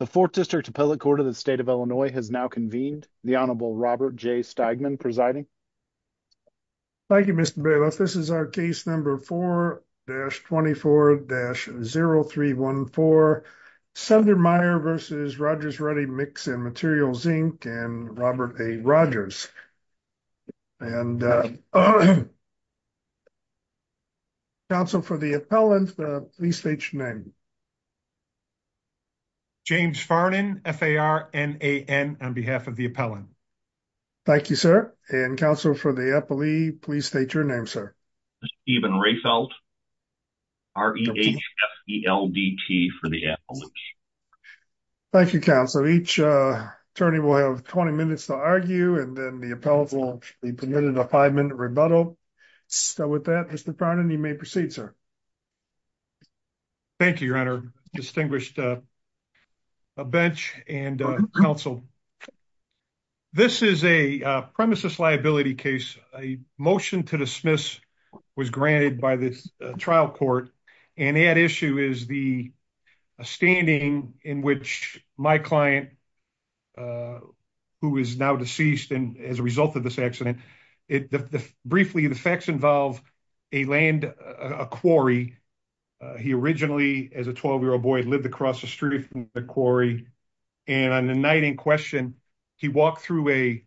The 4th District Appellate Court of the State of Illinois has now convened. The Honorable Robert J. Steigman presiding. Thank you, Mr. Bailiff. This is our case number 4-24-0314, Sundermeyer v. Rogers, Ruddy, Mix, and Materials, Inc. and Robert A. Rogers. Counsel for the appellant, please state your name. James Farnan, F-A-R-N-A-N, on behalf of the appellant. Thank you, sir. And counsel for the appellee, please state your name, sir. Steven Rehfeldt, R-E-H-F-E-L-D-T, for the appellant. Thank you, counsel. Each attorney will have 20 minutes to argue, and then the appellant will be permitted a five-minute rebuttal. So with that, Mr. Farnan, you may proceed, sir. Thank you, Your Honor, distinguished bench and counsel. This is a premises liability case. A motion to dismiss was granted by the trial court, and at issue is the standing in which my client, who is now deceased as a result of this accident. Briefly, the facts involve a quarry. He originally, as a 12-year-old boy, lived across the street from the quarry, and on the night in question, he walked through a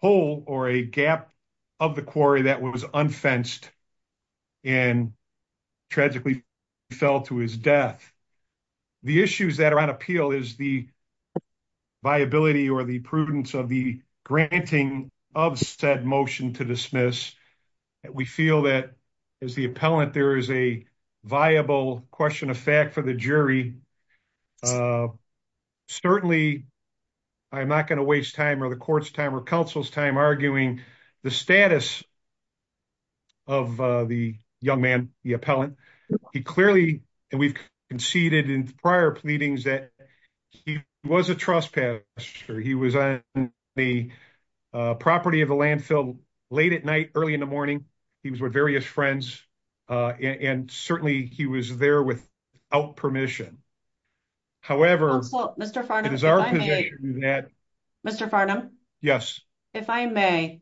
hole or a gap of the quarry that was unfenced and tragically fell to his death. The issues that are on appeal is the viability or the prudence of the granting of said motion to dismiss. We feel that as the appellant, there is a viable question of fact for the jury. Certainly, I'm not going to waste time or the court's time or counsel's time arguing the status of the young man, the appellant. He clearly, and we've conceded in prior pleadings that he was a trespasser. He was on the property of the landfill late at night, early in the morning. However, it is our position to do that. Mr. Farnham? Yes. If I may,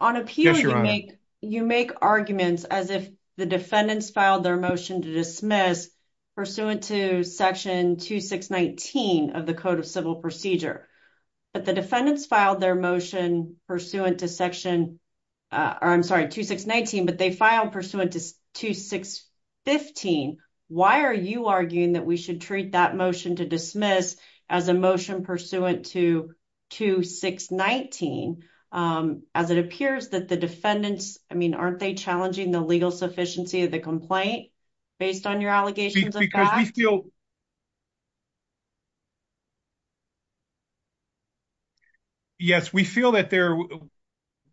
on appeal, you make arguments as if the defendants filed their motion to dismiss pursuant to Section 2619 of the Code of Civil Procedure, but the defendants filed their motion pursuant to Section 2615. Why are you arguing that we should treat that motion to dismiss as a motion pursuant to 2619 as it appears that the defendants, I mean, aren't they challenging the legal sufficiency of the complaint based on your allegations of fact? Yes, we feel that there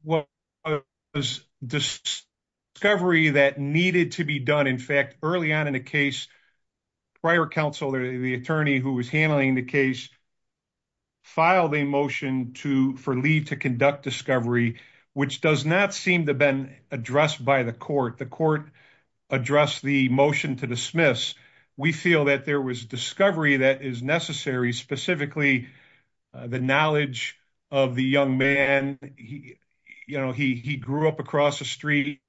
was discovery that needed to be done. In fact, early on in the case, prior counsel, the attorney who was handling the case, filed a motion for leave to conduct discovery, which does not seem to have been addressed by the court. The court addressed the motion to dismiss. We feel that there was discovery that is necessary, specifically the knowledge of the young man. He grew up across the street.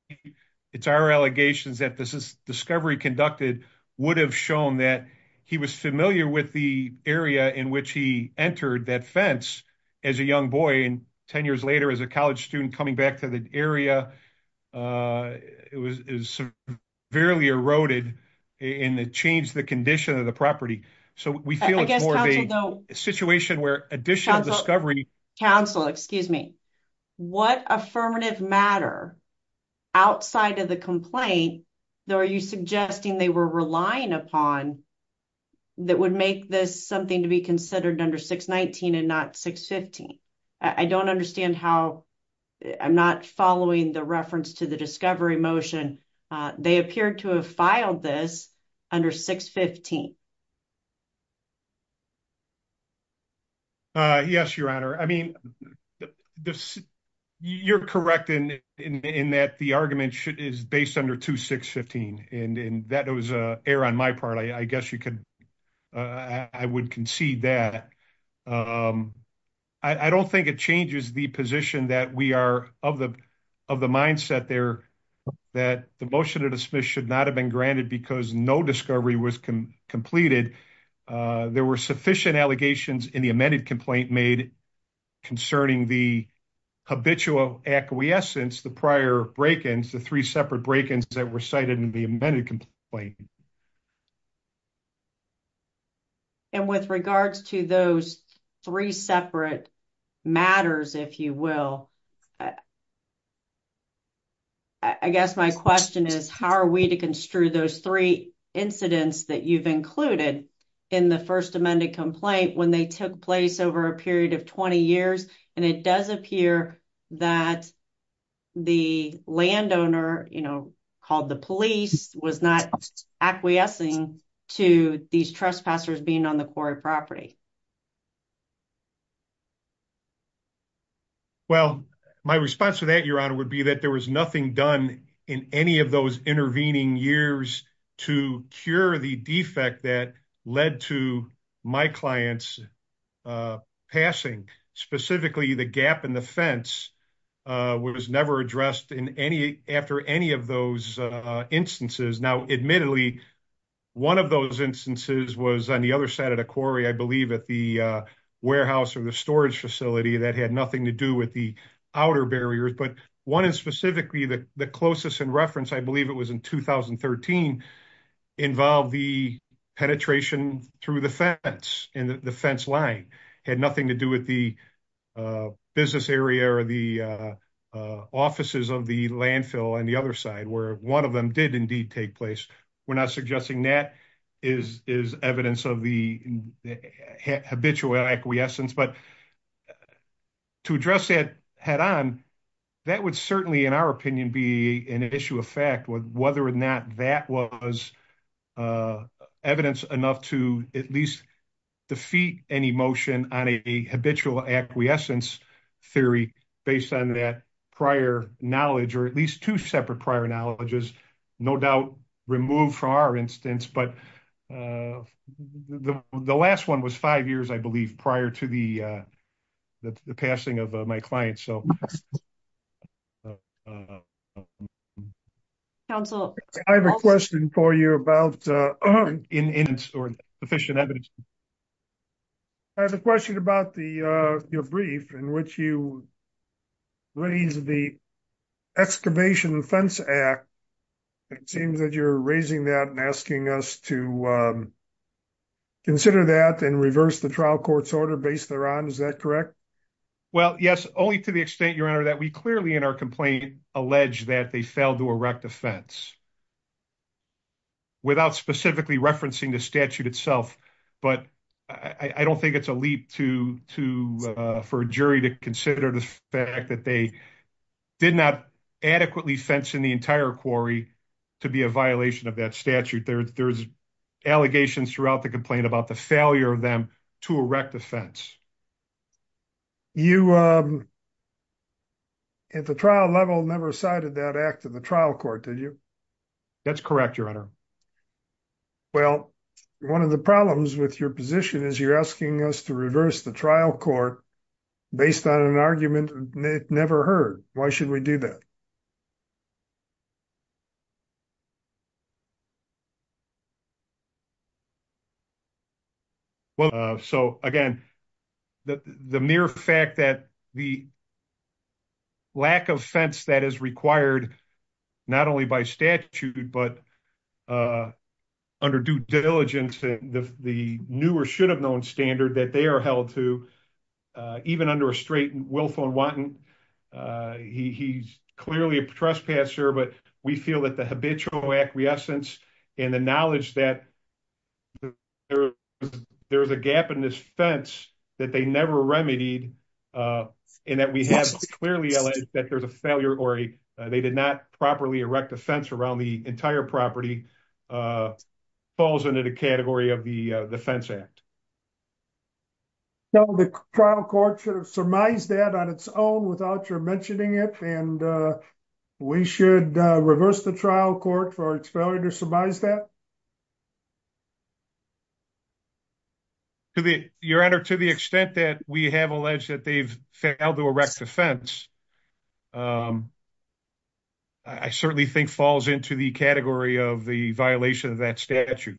It's our allegations that this discovery conducted would have shown that he was familiar with the area in which he entered that fence as a young boy, and 10 years later as a college student coming back to the area, it was severely eroded and it changed the condition of the property. So, we feel it's more of a situation where additional discovery... Counsel, excuse me. What affirmative matter outside of the complaint are you suggesting they were relying upon that would make this something to be considered under 619 and not 615? I don't understand how... I'm not following the reference to the discovery motion. They appeared to have filed this under 615. Yes, Your Honor. I mean, you're correct in that the argument is based under 2615, and that was an error on my part. I guess you could... I would concede that. I don't think it changes the position that we are of the mindset there that the motion to dismiss should not have been granted because no discovery was completed. There were sufficient allegations in the amended complaint made concerning the habitual acquiescence, the prior break-ins, the three separate break-ins that were cited in the amended complaint. And with regards to those three separate matters, if you will, I guess my question is how are we to construe those three incidents that you've included in the first amended complaint when they took place over a period of 20 years, and it does appear that the landowner, you know, called the police, was not acquiescing to these trespassers being on the quarry property? Well, my response to that, Your Honor, would be that there was nothing done in any of those intervening years to cure the defect that led to my client's passing. Specifically, the gap in the fence was never addressed after any of those instances. Now, admittedly, one of those instances was on the other side of the quarry, I believe, at the warehouse or the storage facility that had nothing to do with the outer barriers, but one is specifically the closest in reference, I believe it was in 2013, involved the penetration through the fence and the fence line had nothing to do with the business area or the offices of the landfill on the other side where one of them did indeed take place. We're not suggesting that is evidence of the habitual acquiescence, but to address that head-on, that would certainly, in our opinion, be an issue of fact whether or not that was evidence enough to at least defeat any motion on a habitual acquiescence theory based on that prior knowledge or at least two separate prior knowledges, no doubt removed from our instance, but the last one was five years, I believe, prior to the passing of my client. So I have a question for you about sufficient evidence. I have a question about your brief in which you raise the excavation fence act. It seems that you're raising that and asking us to consider that and reverse the trial court's base thereon, is that correct? Well, yes, only to the extent, Your Honor, that we clearly in our complaint allege that they failed to erect a fence without specifically referencing the statute itself, but I don't think it's a leap for a jury to consider the fact that they did not adequately fence in the entire quarry to be a violation of that statute. There's allegations throughout the about the failure of them to erect a fence. You, at the trial level, never cited that act of the trial court, did you? That's correct, Your Honor. Well, one of the problems with your position is you're asking us to reverse the trial court based on an argument never heard. Why should we do that? Well, so again, the mere fact that the lack of fence that is required, not only by statute, but under due diligence, the new or should have known standard that they are held to, even under a straight willful and wanton, he's clearly a trespasser, but we feel that the there's a gap in this fence that they never remedied and that we have clearly alleged that there's a failure or they did not properly erect a fence around the entire property falls into the category of the defense act. So the trial court should have surmised that on its own without your mentioning it and we should reverse the trial court for its failure to surmise that? To the, Your Honor, to the extent that we have alleged that they've failed to erect a fence, I certainly think falls into the category of the violation of that statute.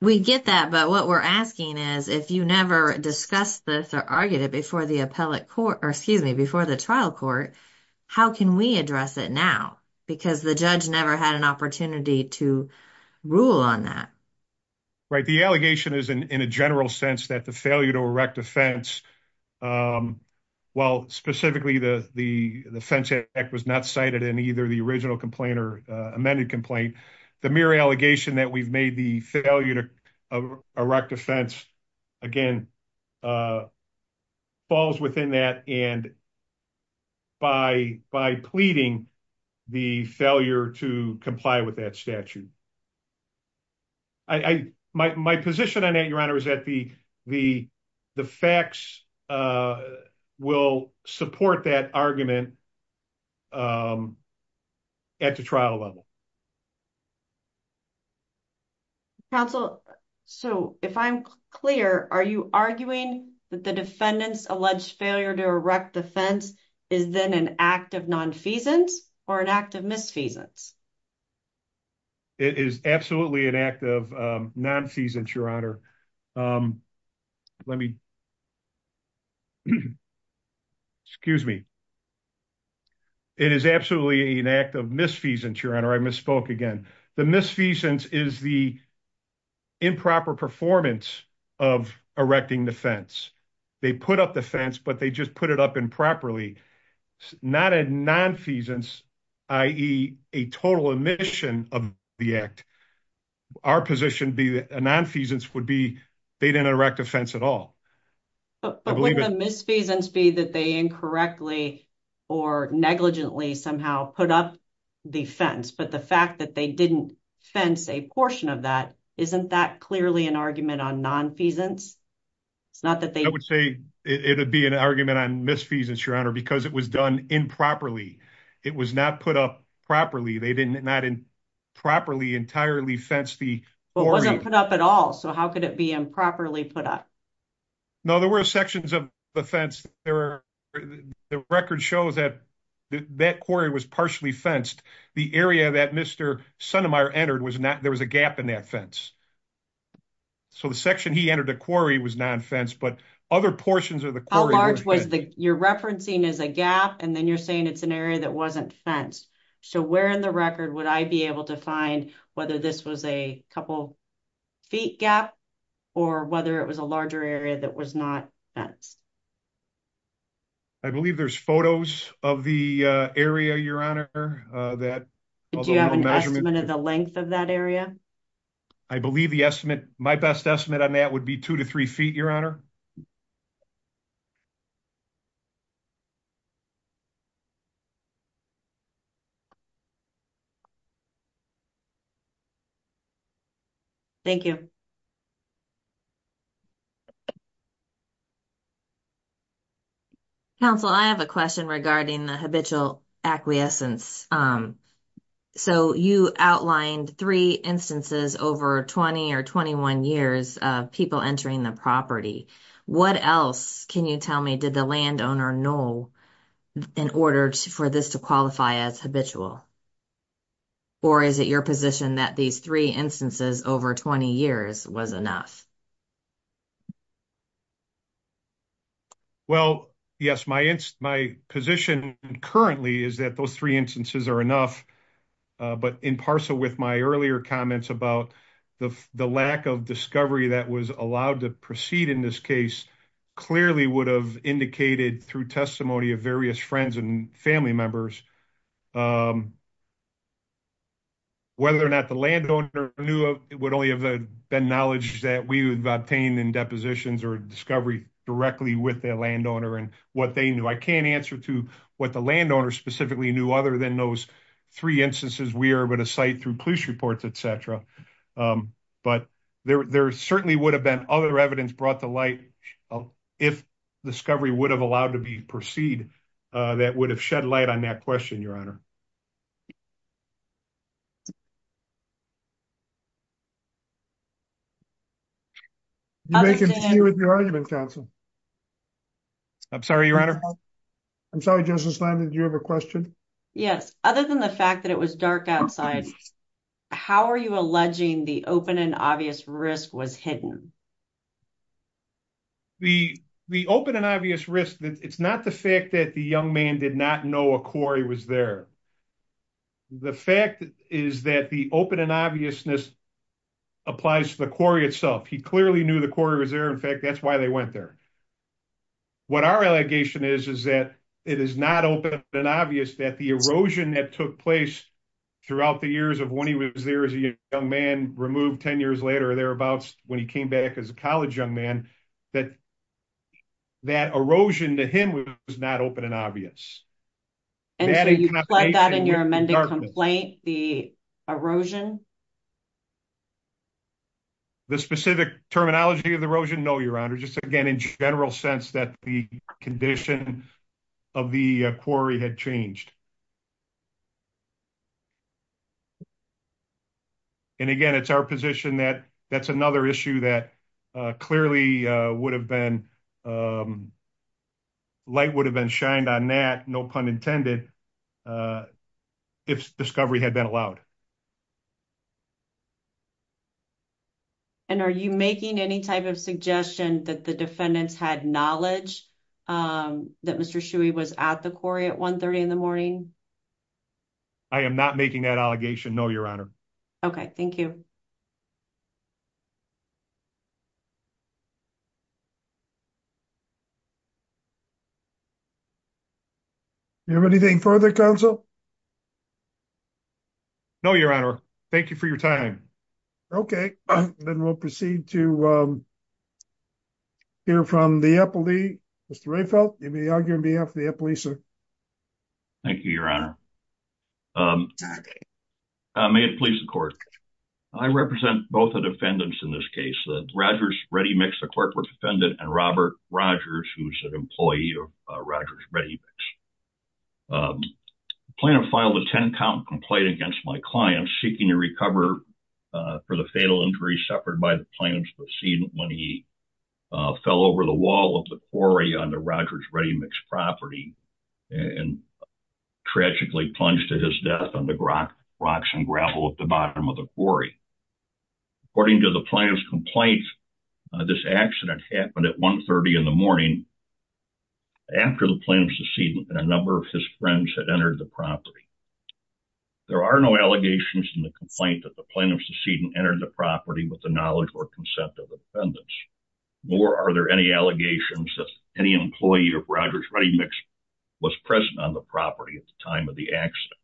We get that, but what we're asking is if you never discussed this or argued it before the appellate court, or excuse me, before the trial court, how can we address it now? Because the never had an opportunity to rule on that. Right. The allegation is in a general sense that the failure to erect a fence, while specifically the fence act was not cited in either the original complaint or amended complaint, the mere allegation that we've made the failure to comply with that statute. My position on that, Your Honor, is that the facts will support that argument at the trial level. Counsel, so if I'm clear, are you arguing that the defendants alleged failure to erect the fence is then an act of nonfeasance or an act of misfeasance? It is absolutely an act of nonfeasance, Your Honor. Excuse me. It is absolutely an act of misfeasance, Your Honor. I misspoke again. The misfeasance is the improper performance of erecting the fence. They put up the fence, but they just put it up improperly. Not a nonfeasance, i.e. a total omission of the act. Our position would be that a nonfeasance would be they didn't erect a fence at all. But wouldn't the misfeasance be that they incorrectly or negligently somehow put up the fence, but the fact that they didn't fence a portion of that, isn't that clearly an argument on nonfeasance? I would say it would be an argument on misfeasance, Your Honor, because it was done improperly. It was not put up properly. They did not properly entirely fence the quarry. It wasn't put up at all, so how could it be improperly put up? No, there were sections of the fence. The record shows that that quarry was partially fenced. The area that Mr. Sundermeier entered, there was a gap in that fence. So the section he entered the quarry was non-fenced, but other portions of the quarry... How large was the... You're referencing as a gap, and then you're saying it's an area that wasn't fenced. So where in the record would I be able to find whether this was a couple feet gap, or whether it was a larger area that was not fenced? I believe there's photos of the area, Your Honor, that... Do you have an estimate of the length of that area? I believe the estimate... My best estimate on that would be two to three feet, Your Honor. Thank you. Counsel, I have a question regarding the habitual acquiescence. So you outlined three instances over 20 or 21 years of people entering the property. What else can you tell me did the landowner know in order for this to qualify as habitual? Or is it your position that these three instances over 20 years was enough? Well, yes, my position currently is that those three instances are enough. But in parcel with my earlier comments about the lack of discovery that was allowed to proceed in this case clearly would have indicated through testimony of various friends and family members, whether or not the landowner knew, it would only have been knowledge that was obtained in depositions or discovery directly with their landowner and what they knew. I can't answer to what the landowner specifically knew other than those three instances we are going to cite through police reports, etc. But there certainly would have been other evidence brought to light if discovery would have allowed to proceed that would have shed light on that question, Your Honor. You can continue with your argument, counsel. I'm sorry, Your Honor. I'm sorry, Justice Landon. Do you have a question? Yes. Other than the fact that it was dark outside, how are you alleging the open and obvious risk was hidden? The open and obvious risk, it's not the fact that the young man did not know a quarry was there. The fact is that the open and obviousness applies to the quarry itself. He clearly knew the quarry was there. In fact, that's why they went there. What our allegation is, is that it is not open and obvious that the erosion that took place throughout the years of when he was there as a young man, removed 10 years later or thereabouts when he came back as a college young man, that that erosion to him was not open and obvious. And so you plug that in your amended complaint, the erosion? The specific terminology of the erosion? No, Your Honor. Just again, in general sense that the condition of the quarry had changed. And again, it's our position that that's another issue that clearly would have been um, light would have been shined on that, no pun intended, if discovery had been allowed. And are you making any type of suggestion that the defendants had knowledge that Mr. Shuey was at the quarry at 1 30 in the morning? I am not making that allegation. No, Your Honor. Okay, thank you. Do you have anything further, counsel? No, Your Honor. Thank you for your time. Okay, then we'll proceed to hear from the appellee. Mr. Rayfelt, you may argue on behalf of the appellee, sir. Thank you, Your Honor. May it please the court. I represent both the defendants in this case, Rogers Ready Mix, the corporate defendant, and Robert Rogers, who's an employee of Rogers Ready Mix. The plaintiff filed a 10 count complaint against my client seeking to recover for the fatal injury suffered by the plaintiff's proceedings when he fell over the wall of the quarry on the and tragically plunged to his death on the rocks and gravel at the bottom of the quarry. According to the plaintiff's complaint, this accident happened at 1 30 in the morning after the plaintiff's decedent and a number of his friends had entered the property. There are no allegations in the complaint that the plaintiff's decedent entered the property with the knowledge or consent of the defendants, nor are there any allegations that any employee of Rogers Ready Mix was present on the property at the time of the accident.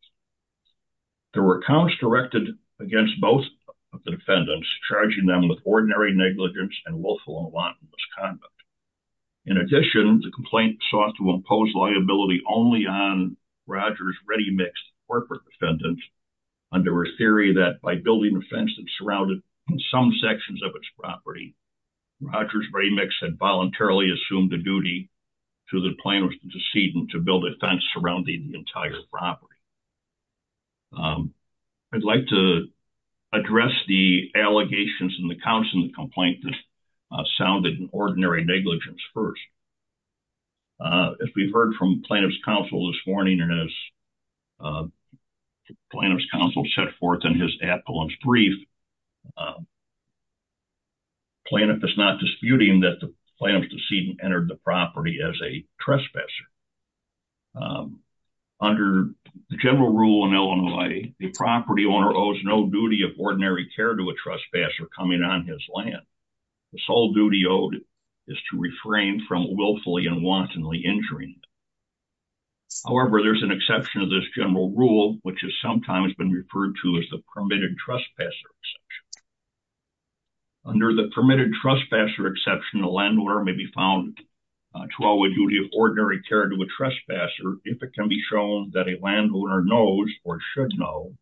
There were counts directed against both of the defendants, charging them with ordinary negligence and willful and wanton misconduct. In addition, the complaint sought to impose liability only on Rogers Ready Mix, the corporate defendant, under a theory that by building a fence that surrounded some sections of its property, Rogers Ready Mix had voluntarily assumed the duty to the plaintiff's decedent to build a fence surrounding the entire property. I'd like to address the allegations in the counts in the complaint that sounded an ordinary negligence first. As we've heard from plaintiff's counsel this morning and as plaintiff's counsel set forth in his apologies brief, plaintiff is not disputing that the plaintiff's decedent entered the property as a trespasser. Under the general rule in Illinois, the property owner owes no duty of ordinary care to a trespasser coming on his land. The sole duty owed is to refrain from willfully and wantonly injuring. However, there's an exception to this general rule, which has sometimes been referred to as the permitted trespasser exception. Under the permitted trespasser exception, a landowner may be found to owe a duty of ordinary care to a trespasser if it can be shown that a landowner knows or should know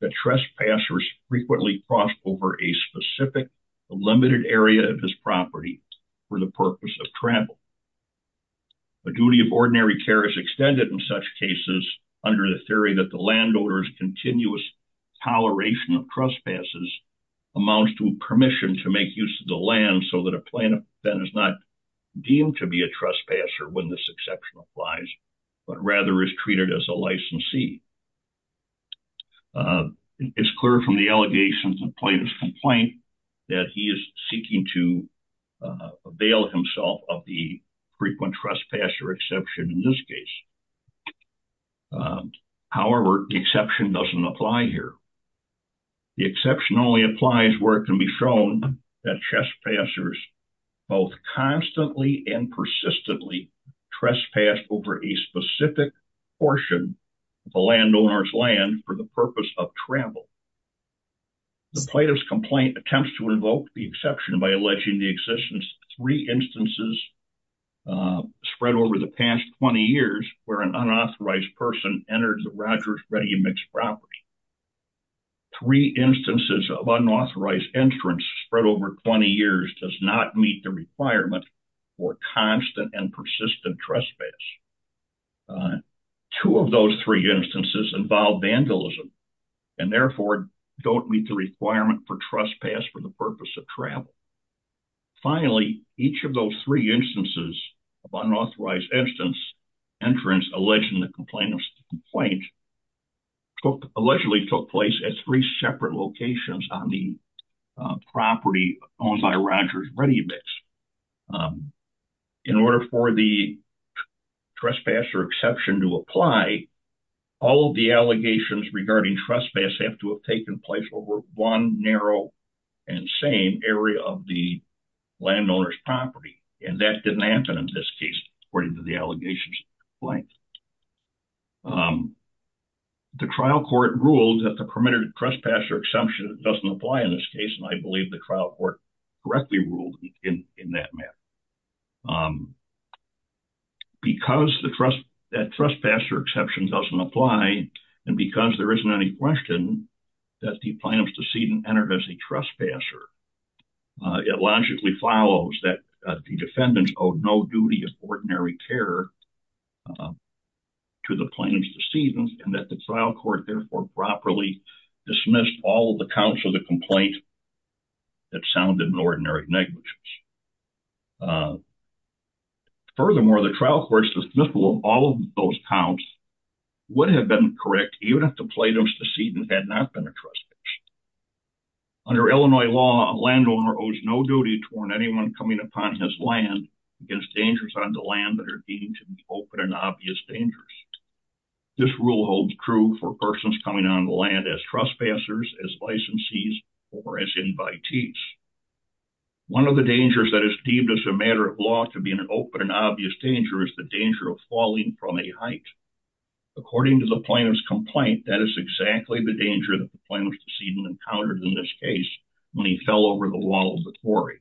that trespassers frequently cross over a specific limited area of his property for the purpose of travel. The duty of ordinary care is extended in such cases under the theory that the landowner's continuous toleration of trespasses amounts to permission to make use of the land so that a plaintiff then is not deemed to be a trespasser when this exception applies, but rather is treated as a licensee. It's clear from the allegations in the plaintiff's complaint that he is seeking to avail himself of the frequent trespasser exception in this case. However, the exception doesn't apply here. The exception only applies where it can be shown that trespassers both constantly and persistently trespass over a specific portion of the landowner's land for the purpose of travel. The plaintiff's complaint attempts to invoke the exception by alleging the existence of three instances spread over the past 20 years where an unauthorized person entered the Rogers Ready mixed property. Three instances of unauthorized entrance spread over 20 years does not meet the requirement for constant and persistent trespass. Two of those three instances involve vandalism and therefore don't meet the requirement for trespass for the purpose of travel. Finally, each of those three instances of unauthorized entrance alleged in the complainant's complaint allegedly took place at three separate locations on the property owned by Rogers Ready mixed. In order for the trespasser exception to apply, all of the allegations regarding trespass have to have taken place over one narrow and same area of the landowner's property and that didn't happen in this case according to the allegations in the complaint. The trial court ruled that the permitted trespasser exception doesn't apply in this case and I believe the trial court correctly ruled in that matter. Because that trespasser exception doesn't apply and because there isn't any question that the plaintiff's decedent entered as a trespasser, it logically follows that the defendants owed no duty of ordinary care to the plaintiff's decedent and that the trial court therefore properly dismissed all the counts of the complaint that sounded an ordinary negligence. Furthermore, the trial court's dismissal of all of those counts would have been correct even if the plaintiff's decedent had not been a trespasser. Under Illinois law, a landowner owes no duty to warn anyone coming upon his land against dangers on the land that are deemed to be open and obvious dangers. This rule holds true for persons coming on the land as trespassers, as licensees, or as invitees. One of the dangers that is deemed as a matter of law to be an open and obvious danger is the falling from a height. According to the plaintiff's complaint, that is exactly the danger that the plaintiff's decedent encountered in this case when he fell over the wall of the quarry.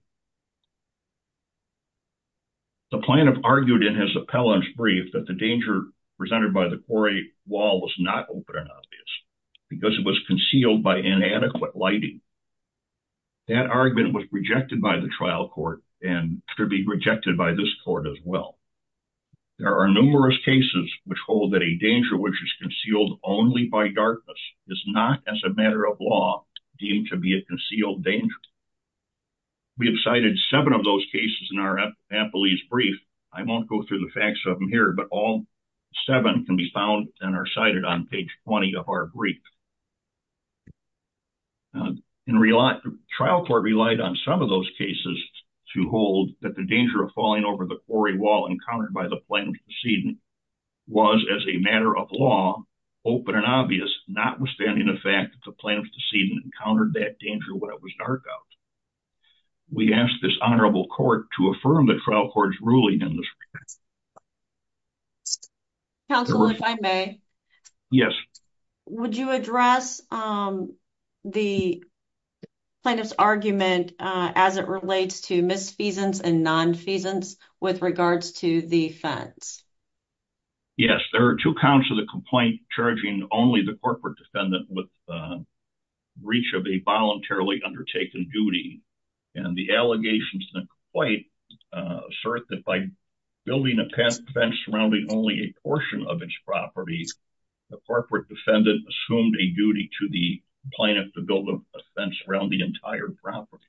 The plaintiff argued in his appellant's brief that the danger presented by the quarry wall was not open and obvious because it was concealed by inadequate lighting. That argument was rejected by the trial court and could be rejected by this court as well. There are numerous cases which hold that a danger which is concealed only by darkness is not as a matter of law deemed to be a concealed danger. We have cited seven of those cases in our appellate's brief. I won't go through the facts of them here, but all seven can be found and are cited on page 20 of our brief. The trial court relied on some of those cases to hold that the danger of falling over the quarry wall encountered by the plaintiff's decedent was, as a matter of law, open and obvious, notwithstanding the fact that the plaintiff's decedent encountered that danger when it was dark out. We ask this honorable court to affirm the trial court's ruling in this regard. Counsel, if I may. Yes. Would you address the plaintiff's argument as it relates to misfeasance and non-feasance with regards to the fence? Yes, there are two counts of the complaint charging only the corporate defendant with breach of a voluntarily undertaken duty, and the allegations in the complaint assert that by building a fence surrounding only a portion of its property, the corporate defendant assumed a duty to the plaintiff to build a fence around the entire property.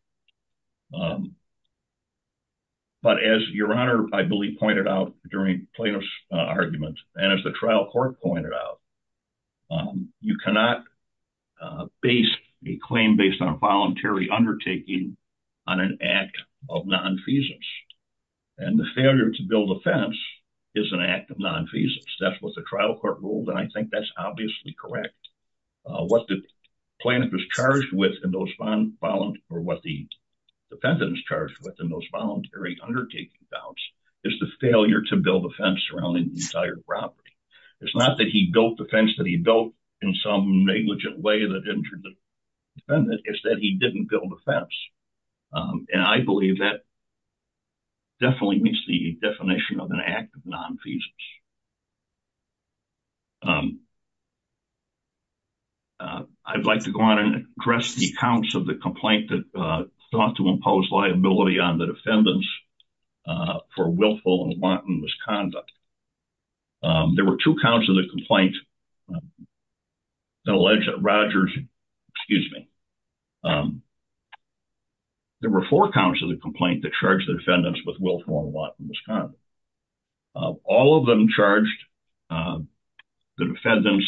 But as your honor, I believe, pointed out during plaintiff's argument, and as trial court pointed out, you cannot base a claim based on voluntary undertaking on an act of non-feasance. And the failure to build a fence is an act of non-feasance. That's what the trial court ruled, and I think that's obviously correct. What the defendant is charged with in those voluntary undertaking counts is the failure to build a fence surrounding the entire property. It's not that he built the fence that he built in some negligent way that injured the defendant, it's that he didn't build a fence. And I believe that definitely meets the definition of an act of non-feasance. I'd like to go on and address the counts of the complaint that sought to impose liability on the defendants for willful and wanton misconduct. There were two counts of the complaint that alleged that Rogers, excuse me, there were four counts of the complaint that charged the defendants with willful and wanton misconduct. All of them charged the defendants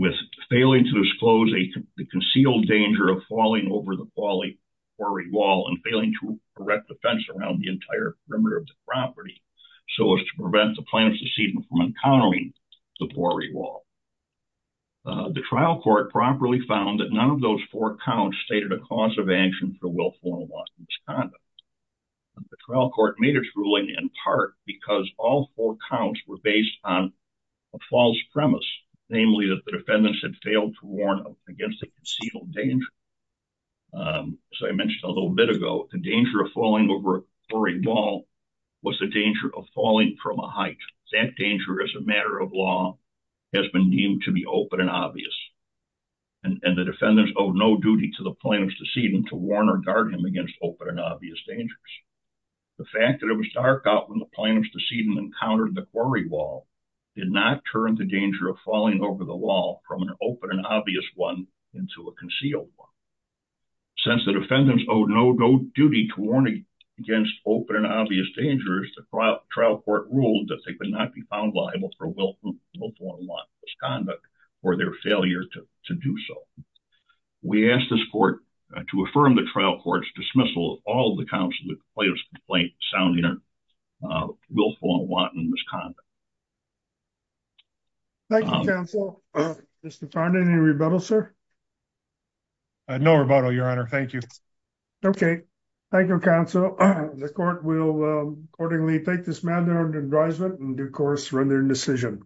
with failing to disclose the concealed danger of falling over the quarry wall and failing to erect the fence around the entire perimeter of the property so as to prevent the plaintiff's deceit from encountering the quarry wall. The trial court properly found that none of those four counts stated a cause of action for willful and wanton misconduct. The trial court made its in part because all four counts were based on a false premise, namely that the defendants had failed to warn against the concealed danger. As I mentioned a little bit ago, the danger of falling over a quarry wall was the danger of falling from a height. That danger as a matter of law has been deemed to be open and obvious. And the defendants owe no duty to the plaintiff's decedent to warn or guard him against open and obvious dangers. The fact that it was dark out when the plaintiff's decedent encountered the quarry wall did not turn the danger of falling over the wall from an open and obvious one into a concealed one. Since the defendants owe no duty to warn against open and obvious dangers, the trial court ruled that they could not be found liable for willful and wanton misconduct for their failure to do so. We ask this court to affirm the trial court's dismissal of all the counts of the plaintiff's complaint sounding willful and wanton misconduct. Thank you, counsel. Mr. Farnon, any rebuttal, sir? No rebuttal, your honor. Thank you. Okay, thank you, counsel. The court will accordingly take this matter under advisement and, of course, run their decision.